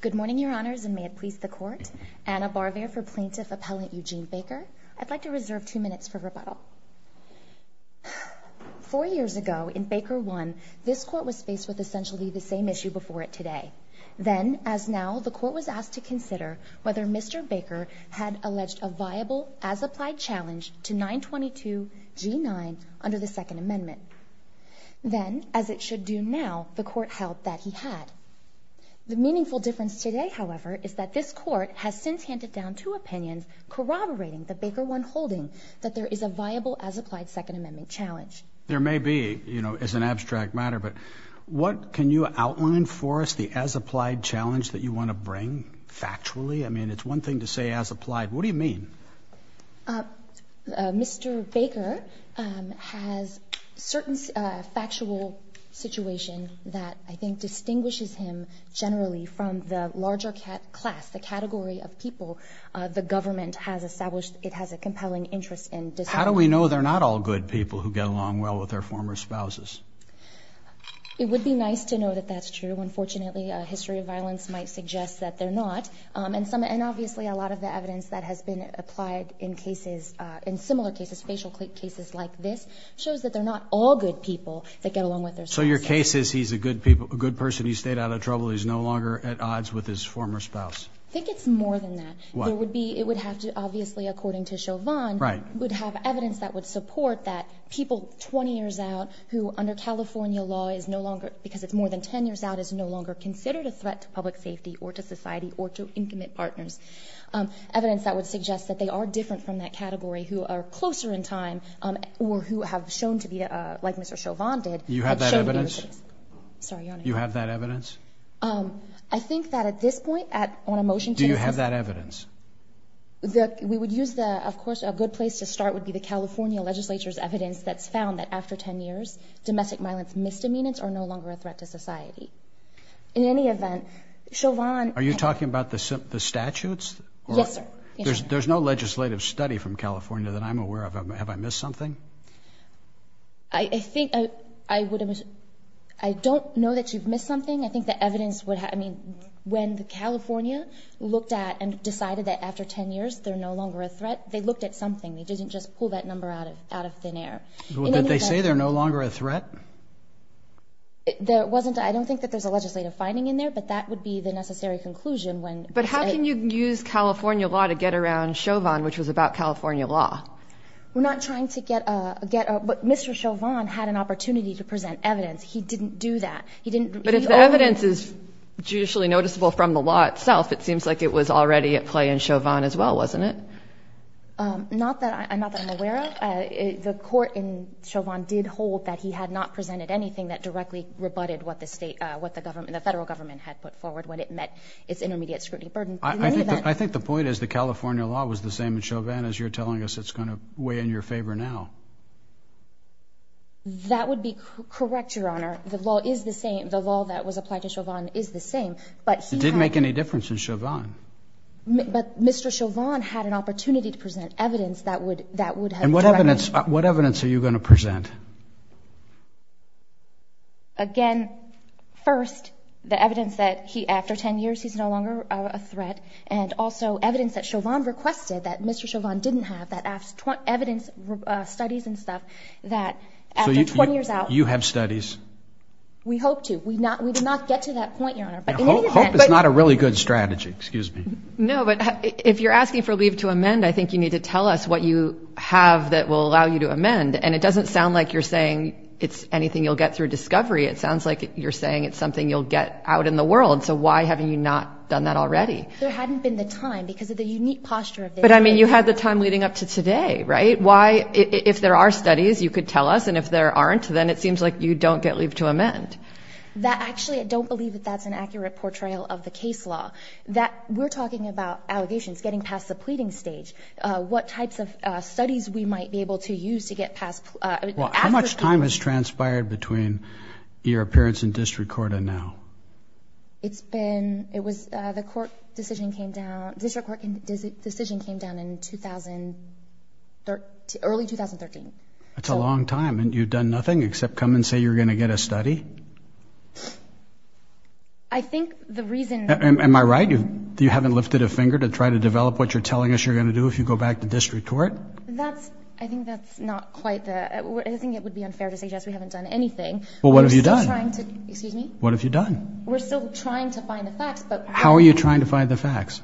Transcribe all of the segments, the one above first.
Good morning, Your Honors, and may it please the Court. Anna Barver for Plaintiff Appellant Eugene Baker. I'd like to reserve two minutes for rebuttal. Four years ago, in Baker 1, this Court was faced with essentially the same issue before it today. Then, as now, the Court was asked to consider whether Mr. Baker had alleged a viable, as-applied challenge to 922 G9 under the Second Amendment. Then, as it should do now, the Court held that he had. The meaningful difference today, however, is that this Court has since handed down two opinions corroborating the Baker 1 holding that there is a viable, as-applied Second Amendment challenge. There may be, you know, as an abstract matter, but what can you outline for us the as-applied challenge that you want to bring, factually? I mean, it's one thing to say as-applied. What do you mean? Mr. Baker has a certain factual situation that I think distinguishes him generally from the larger class, the category of people the government has established it has a compelling interest in. How do we know they're not all good people who get along well with their former spouses? It would be nice to know that that's true. Unfortunately, history of violence might suggest that they're not. And obviously, a lot of the evidence that has been applied in cases, in similar cases, facial cases like this, shows that they're not all good people that get along with their spouses. So your case is he's a good person, he stayed out of trouble, he's no longer at odds with his former spouse? I think it's more than that. Why? It would have to, obviously, according to Chauvin, would have evidence that would support that people 20 years out who, under California law, because it's more than 10 years out, is no longer considered a threat to public safety, or to society, or to intimate partners. Evidence that would suggest that they are different from that category, who are closer in time, or who have shown to be, like Mr. Chauvin did, have shown to be racist. Do you have that evidence? Sorry, Your Honor. Do you have that evidence? I think that at this point, on a motion to insist... Do you have that evidence? We would use the, of course, a good place to start would be the California legislature's evidence that's found that after 10 years, domestic violence misdemeanors are no longer a threat to society. In any event, Chauvin... Are you talking about the statutes? Yes, sir. There's no legislative study from California that I'm aware of. Have I missed something? I think I would... I don't know that you've missed something. I think the evidence would have... I mean, when California looked at and decided that after 10 years, they're no longer a threat, they looked at something. They didn't just pull that number out of thin air. Did they say they're no longer a threat? There wasn't... I don't think that there's a legislative finding in there, but that would be the necessary conclusion when... But how can you use California law to get around Chauvin, which was about California law? We're not trying to get... But Mr. Chauvin had an opportunity to present evidence. He didn't do that. He didn't... But if the evidence is judicially noticeable from the law itself, it seems like it was already at play in Chauvin as well, wasn't it? Not that I'm aware of. The court in Chauvin did hold that he had not presented anything that directly rebutted what the federal government had put forward when it met its intermediate scrutiny burden. I think the point is the California law was the same in Chauvin as you're telling us it's going to weigh in your favor now. That would be correct, Your Honor. The law is the same. The law that was applied to Chauvin is the same. But he had... It didn't make any difference in Chauvin. But Mr. Chauvin had an opportunity to present evidence that would have directly... What evidence are you going to present? Again, first, the evidence that after 10 years he's no longer a threat, and also evidence that Chauvin requested that Mr. Chauvin didn't have, that evidence, studies and stuff, that after 20 years out... You have studies? We hope to. We did not get to that point, Your Honor. But in any event... That's not a really good strategy. Excuse me. No, but if you're asking for leave to amend, I think you need to tell us what you have that will allow you to amend. And it doesn't sound like you're saying it's anything you'll get through discovery. It sounds like you're saying it's something you'll get out in the world. So why haven't you not done that already? There hadn't been the time because of the unique posture of this case. But I mean, you had the time leading up to today, right? Why... If there are studies you could tell us, and if there aren't, then it seems like you don't get leave to amend. Actually, I don't believe that that's an accurate portrayal of the case law. We're talking about allegations, getting past the pleading stage. What types of studies we might be able to use to get past... How much time has transpired between your appearance in district court and now? It's been... It was... The court decision came down... District court decision came down in early 2013. That's a long time. You've done nothing except come and say you're going to get a study? I think the reason... Am I right? You haven't lifted a finger to try to develop what you're telling us you're going to do if you go back to district court? That's... I think that's not quite the... I think it would be unfair to suggest we haven't done anything. Well, what have you done? We're still trying to... Excuse me? What have you done? We're still trying to find the facts, but... How are you trying to find the facts?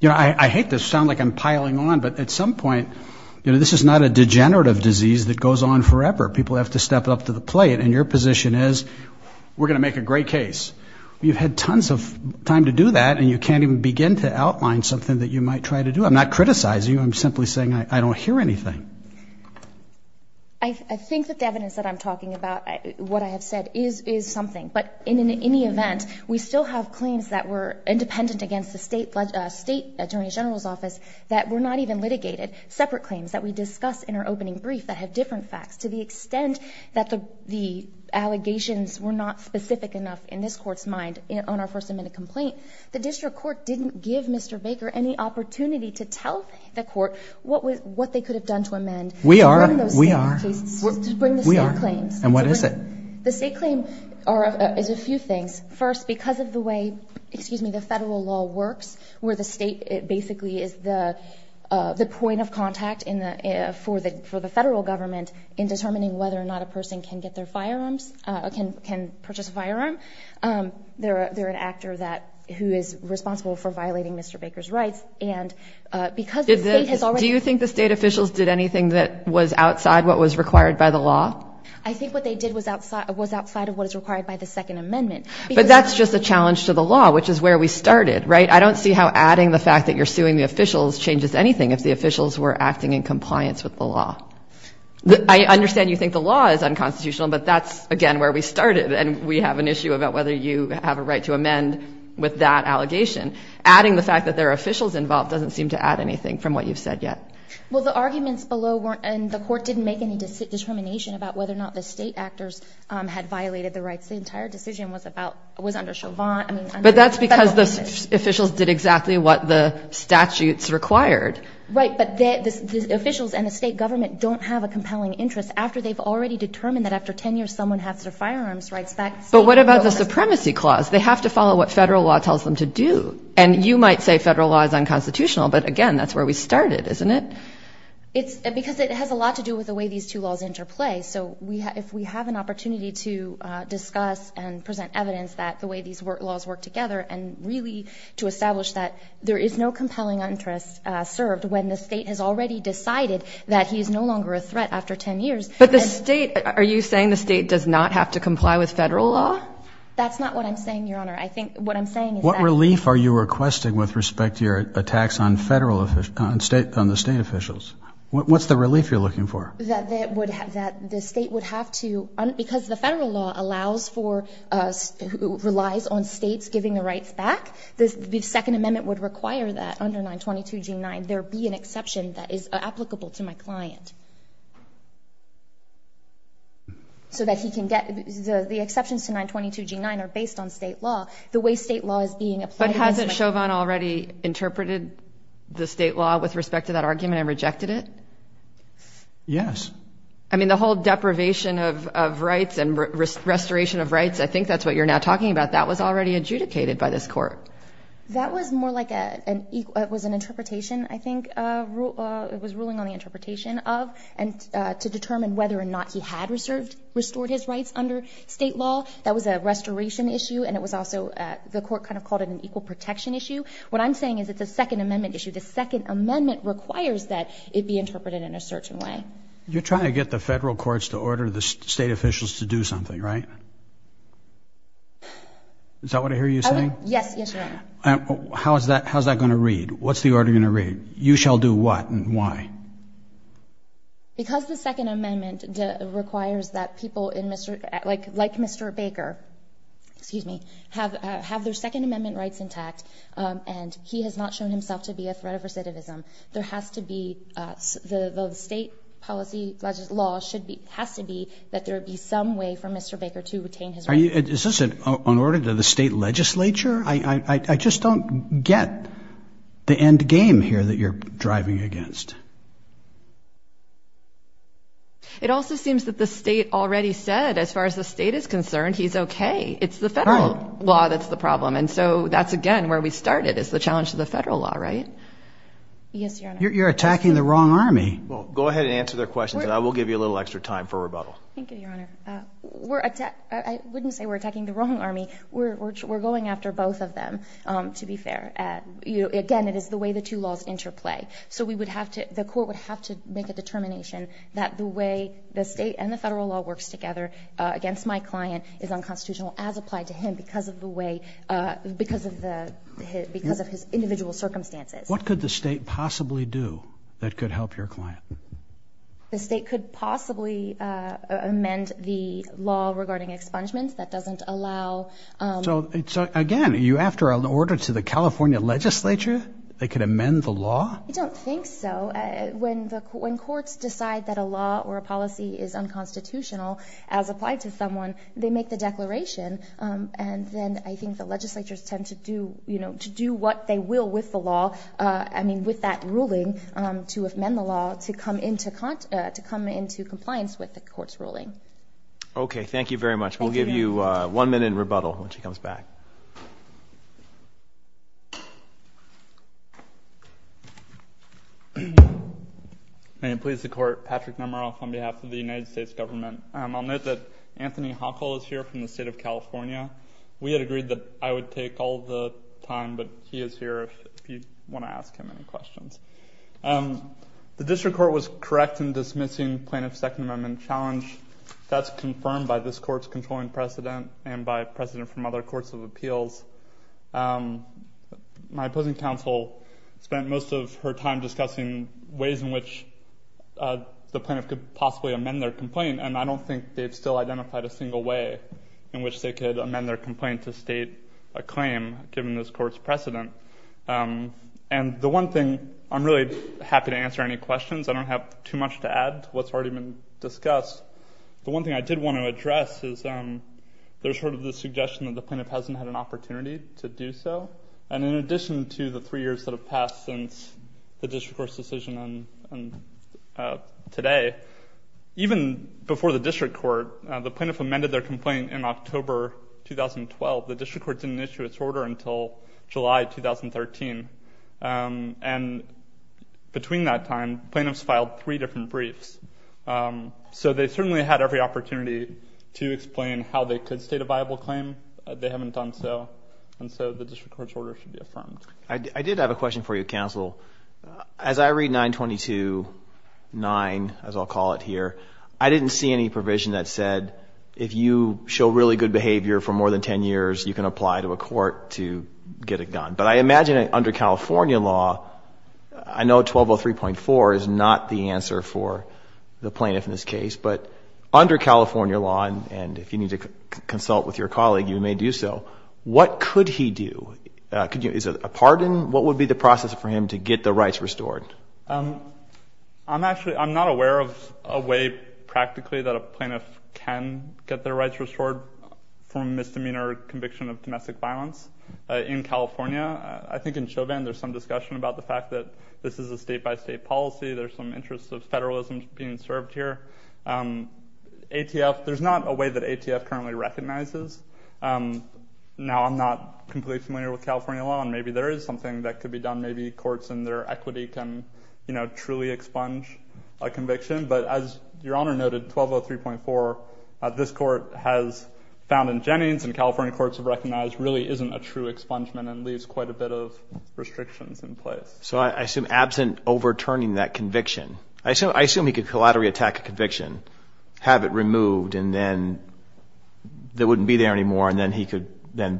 You know, I hate to sound like I'm piling on, but at some point, you know, this is not a degenerative disease that goes on forever. People have to step up to the plate, and your position is, we're going to make a great case. You've had tons of time to do that, and you can't even begin to outline something that you might try to do. I'm not criticizing you. I'm simply saying I don't hear anything. I think that the evidence that I'm talking about, what I have said, is something, but in any event, we still have claims that were independent against the state attorney general's or not even litigated, separate claims that we discuss in our opening brief that have different facts. To the extent that the allegations were not specific enough in this court's mind on our first amendment complaint, the district court didn't give Mr. Baker any opportunity to tell the court what they could have done to amend. We are. We are. To bring the state claims. We are. And what is it? The state claim is a few things. First, because of the way, excuse me, the federal law works, where the state basically is the point of contact for the federal government in determining whether or not a person can get their firearms, can purchase a firearm, they're an actor that, who is responsible for violating Mr. Baker's rights. And because the state has already... Do you think the state officials did anything that was outside what was required by the law? I think what they did was outside of what is required by the second amendment. But that's just a challenge to the law, which is where we started, right? I don't see how adding the fact that you're suing the officials changes anything if the officials were acting in compliance with the law. I understand you think the law is unconstitutional, but that's, again, where we started. And we have an issue about whether you have a right to amend with that allegation. Adding the fact that there are officials involved doesn't seem to add anything from what you've said yet. Well, the arguments below weren't... And the court didn't make any determination about whether or not the state actors had violated the rights. The entire decision was under Chauvin... But that's because the officials did exactly what the statutes required. Right, but the officials and the state government don't have a compelling interest after they've already determined that after 10 years, someone has their firearms rights back. But what about the supremacy clause? They have to follow what federal law tells them to do. And you might say federal law is unconstitutional, but again, that's where we started, isn't it? It's... Because it has a lot to do with the way these two laws interplay, so if we have an opportunity to discuss and present evidence that the way these laws work together, and really to establish that there is no compelling interest served when the state has already decided that he is no longer a threat after 10 years... But the state... Are you saying the state does not have to comply with federal law? That's not what I'm saying, Your Honor. I think what I'm saying is that... State officials, what's the relief you're looking for? That the state would have to... Because the federal law allows for, relies on states giving the rights back, the Second Amendment would require that under 922 G9, there be an exception that is applicable to my client. So that he can get... The exceptions to 922 G9 are based on state law. The way state law is being applied... Judge Chauvin already interpreted the state law with respect to that argument and rejected it? Yes. I mean, the whole deprivation of rights and restoration of rights, I think that's what you're now talking about. That was already adjudicated by this court. That was more like an... It was an interpretation, I think, it was ruling on the interpretation of, and to determine whether or not he had restored his rights under state law. That was a restoration issue, and it was also... The court kind of called it an equal protection issue. What I'm saying is it's a Second Amendment issue. The Second Amendment requires that it be interpreted in a certain way. You're trying to get the federal courts to order the state officials to do something, right? Is that what I hear you saying? Yes. Yes, Your Honor. How's that going to read? What's the order going to read? You shall do what and why? Because the Second Amendment requires that people in... Like Mr. Baker, excuse me, have their Second Amendment rights intact, and he has not shown himself to be a threat of recidivism. There has to be... The state policy law has to be that there be some way for Mr. Baker to retain his rights. Is this an order to the state legislature? I just don't get the end game here that you're driving against. It also seems that the state already said, as far as the state is concerned, he's okay. It's the federal law that's the problem. And so that's, again, where we started is the challenge to the federal law, right? Yes, Your Honor. You're attacking the wrong army. Well, go ahead and answer their questions, and I will give you a little extra time for rebuttal. Thank you, Your Honor. We're... I wouldn't say we're attacking the wrong army. We're going after both of them, to be fair. Again, it is the way the two laws interplay. So we would have to... The court would have to make a determination that the way the state and the federal law works together against my client is unconstitutional as applied to him because of the way... Because of his individual circumstances. What could the state possibly do that could help your client? The state could possibly amend the law regarding expungements. That doesn't allow... So, again, are you after an order to the California legislature that could amend the law? I don't think so. When courts decide that a law or a policy is unconstitutional as applied to someone, they make the declaration, and then I think the legislatures tend to do what they will with the law... I mean, with that ruling to amend the law to come into compliance with the court's ruling. Okay. Thank you very much. We'll give you one minute in rebuttal when she comes back. May it please the court. Patrick Nemeroff on behalf of the United States government. I'll note that Anthony Hochul is here from the state of California. We had agreed that I would take all the time, but he is here if you want to ask him any questions. The district court was correct in dismissing plaintiff's Second Amendment challenge. That's confirmed by this court's controlling precedent and by precedent from other courts of appeals. My opposing counsel spent most of her time discussing ways in which the plaintiff could possibly amend their complaint, and I don't think they've still identified a single way in which they could amend their complaint to state a claim given this court's precedent. And the one thing... I'm really happy to answer any questions. I don't have too much to add to what's already been discussed. The one thing I did want to address is there's sort of this suggestion that the plaintiff hasn't had an opportunity to do so. And in addition to the three years that have passed since the district court's decision today, even before the district court, the plaintiff amended their complaint in October 2012. The district court didn't issue its order until July 2013. And between that time, plaintiffs filed three different briefs. So, they certainly had every opportunity to explain how they could state a viable claim. They haven't done so, and so the district court's order should be affirmed. I did have a question for you, counsel. As I read 922.9, as I'll call it here, I didn't see any provision that said if you show really good behavior for more than 10 years, you can apply to a court to get it done. But I imagine under California law, I know 1203.4 is not the answer for the plaintiff in this case, but under California law, and if you need to consult with your colleague, you may do so, what could he do? Is it a pardon? What would be the process for him to get the rights restored? I'm not aware of a way, practically, that a plaintiff can get their rights restored from a misdemeanor conviction of domestic violence in California. I think in Chauvin, there's some discussion about the fact that this is a state-by-state policy. There's some interest of federalism being served here. ATF, there's not a way that ATF currently recognizes. Now, I'm not completely familiar with California law, and maybe there is something that could be done. Maybe courts in their equity can, you know, truly expunge a conviction, but as Your Honor noted, 1203.4, this court has found in Jennings, and California courts have recognized, really isn't a true expungement and leaves quite a bit of restrictions in place. So I assume, absent overturning that conviction, I assume he could collaterally attack a conviction, have it removed, and then it wouldn't be there anymore, and then he could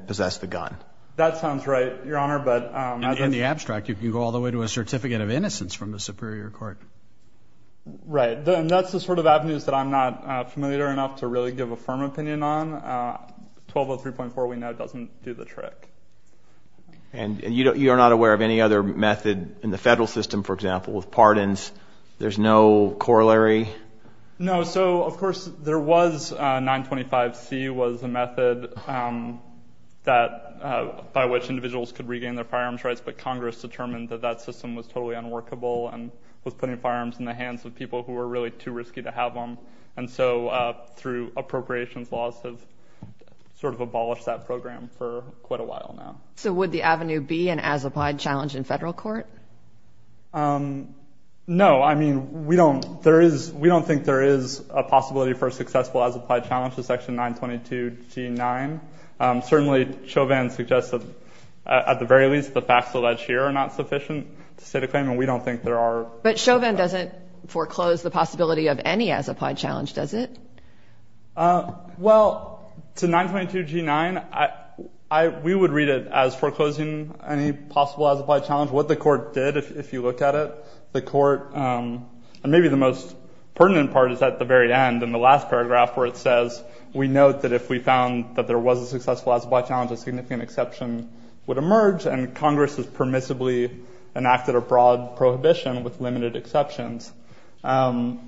possess the gun. That sounds right, Your Honor, but... In the abstract, you can go all the way to a certificate of innocence from the superior court. Right. And that's the sort of avenues that I'm not familiar enough to really give a firm opinion on. 1203.4, we know, doesn't do the trick. And you are not aware of any other method in the federal system, for example, with pardons? There's no corollary? No, so, of course, there was 925C was a method that, by which individuals could regain their firearms rights, but Congress determined that that system was totally unworkable and was putting firearms in the hands of people who were really too risky to have them. And so, through appropriations laws have sort of abolished that program for quite a while now. So would the avenue be an as-applied challenge in federal court? No, I mean, we don't think there is a possibility for a successful as-applied challenge to Section 922G9. Certainly, Chauvin suggests that, at the very least, the facts allege here are not sufficient to state a claim, and we don't think there are... But Chauvin doesn't foreclose the possibility of any as-applied challenge, does it? Well, to 922G9, we would read it as foreclosing any possible as-applied challenge. What the court did, if you look at it, the court, and maybe the most pertinent part is at the very end, in the last paragraph, where it says, we note that if we found that there was a successful as-applied challenge, a significant exception would emerge, and Congress has permissibly enacted a broad prohibition with limited exceptions. And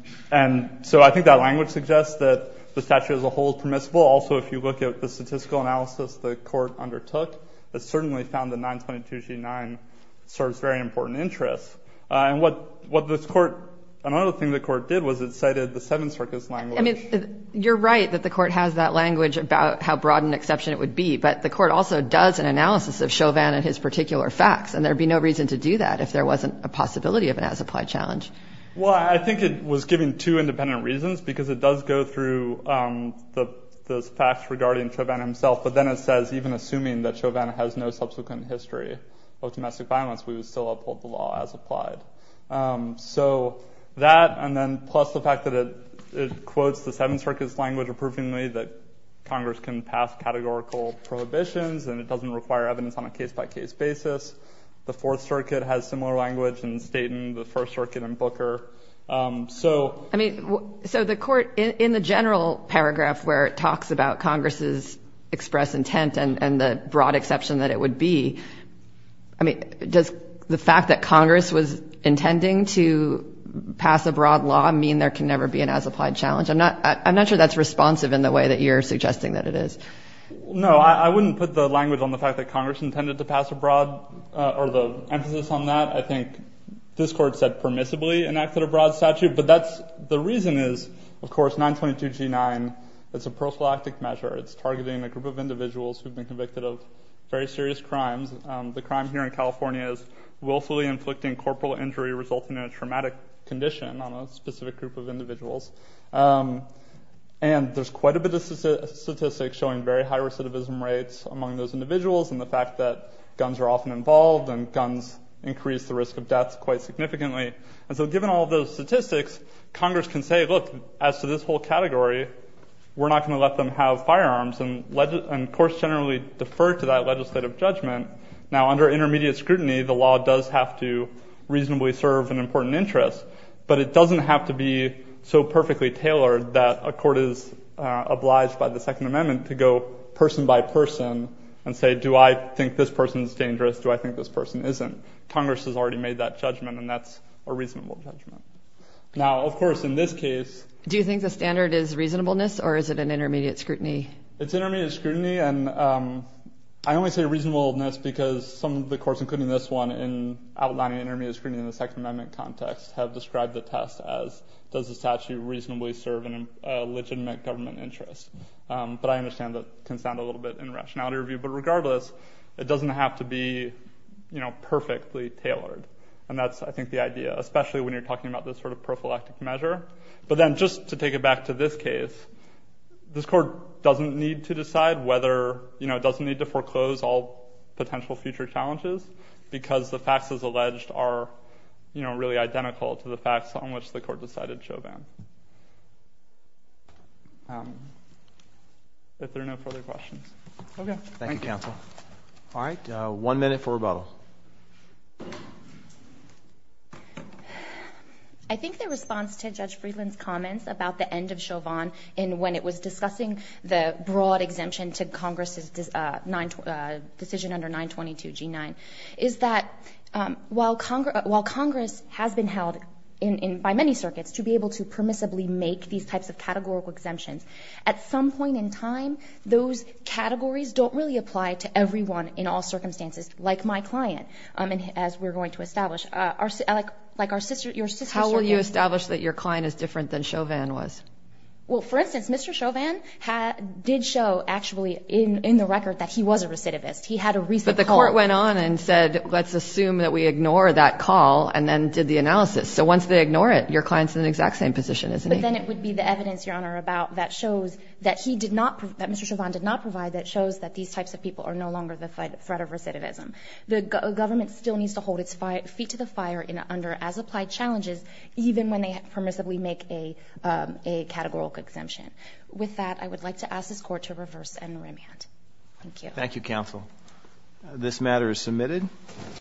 so I think that language suggests that the statute as a whole is permissible. Also, if you look at the statistical analysis the court undertook, it certainly found that 922G9 serves very important interests. And what this court... Another thing the court did was it cited the Seventh Circus language. I mean, you're right that the court has that language about how broad an exception it would be, but the court also does an analysis of Chauvin and his particular facts, and there would be no reason to do that if there wasn't a possibility of an as-applied challenge. Well, I think it was given two independent reasons, because it does go through those facts regarding Chauvin himself, but then it says, even assuming that Chauvin has no subsequent history of domestic violence, we would still uphold the law as applied. So that, and then plus the fact that it quotes the Seventh Circus language approvingly, that Congress can pass categorical prohibitions, and it doesn't require evidence on a case-by-case basis. The Fourth Circuit has similar language in Staten, the First Circuit in Booker. So... I mean, so the court, in the general paragraph where it talks about Congress's express intent and the broad exception that it would be, I mean, does the fact that Congress was intending to pass a broad law mean there can never be an as-applied challenge? I'm not sure that's responsive in the way that you're suggesting that it is. No, I wouldn't put the language on the fact that Congress intended to pass a broad, or the emphasis on that. I think this court said permissibly enacted a broad statute, but that's, the reason is, of course, 922G9, it's a prophylactic measure. It's targeting a group of individuals who've been convicted of very serious crimes. The crime here in California is willfully inflicting corporal injury resulting in a traumatic condition on a specific group of individuals. And there's quite a bit of statistics showing very high recidivism rates among those individuals and the fact that guns are often involved and guns increase the risk of death quite significantly. And so given all those statistics, Congress can say, look, as to this whole category, we're not going to let them have firearms, and courts generally defer to that legislative judgment. Now, under intermediate scrutiny, the law does have to reasonably serve an important interest, but it doesn't have to be so perfectly tailored that a court is obliged by the Second Amendment to go person by person and say, do I think this person's dangerous? Do I think this person isn't? Congress has already made that judgment, and that's a reasonable judgment. Now, of course, in this case... Do you think the standard is reasonableness, or is it an intermediate scrutiny? It's intermediate scrutiny, and I only say reasonableness because some of the courts, including this one in outlining intermediate screening in the Second Amendment context, have described the test as, does the statute reasonably serve a legitimate government interest? But I understand that it can sound a little bit in rationality review, but regardless, it doesn't have to be perfectly tailored. And that's, I think, the idea, especially when you're talking about this sort of prophylactic measure. But then just to take it back to this case, this court doesn't need to decide whether... Because the facts, as alleged, are really identical to the facts on which the court decided Chauvin. If there are no further questions. Okay. Thank you, counsel. All right. One minute for rebuttal. I think the response to Judge Friedland's comments about the end of Chauvin and when it was discussing the broad exemption to Congress's decision under 922 G9, is that while Congress has been held by many circuits to be able to permissibly make these types of categorical exemptions, at some point in time, those categories don't really apply to everyone in all circumstances, like my client, as we're going to establish. Like your sister... How will you establish that your client is different than Chauvin was? Well, for instance, Mr. Chauvin did show, actually, in the record, that he was a recidivist. He had a recent call... But the court went on and said, let's assume that we ignore that call, and then did the analysis. So once they ignore it, your client's in the exact same position, isn't he? But then it would be the evidence, Your Honor, that shows that Mr. Chauvin did not provide that shows that these types of people are no longer the threat of recidivism. The government still needs to hold its feet to the fire under as-applied challenges, even when they permissibly make a categorical exemption. With that, I would like to ask this Court to reverse and remand. Thank you. Thank you, Counsel. This matter is submitted.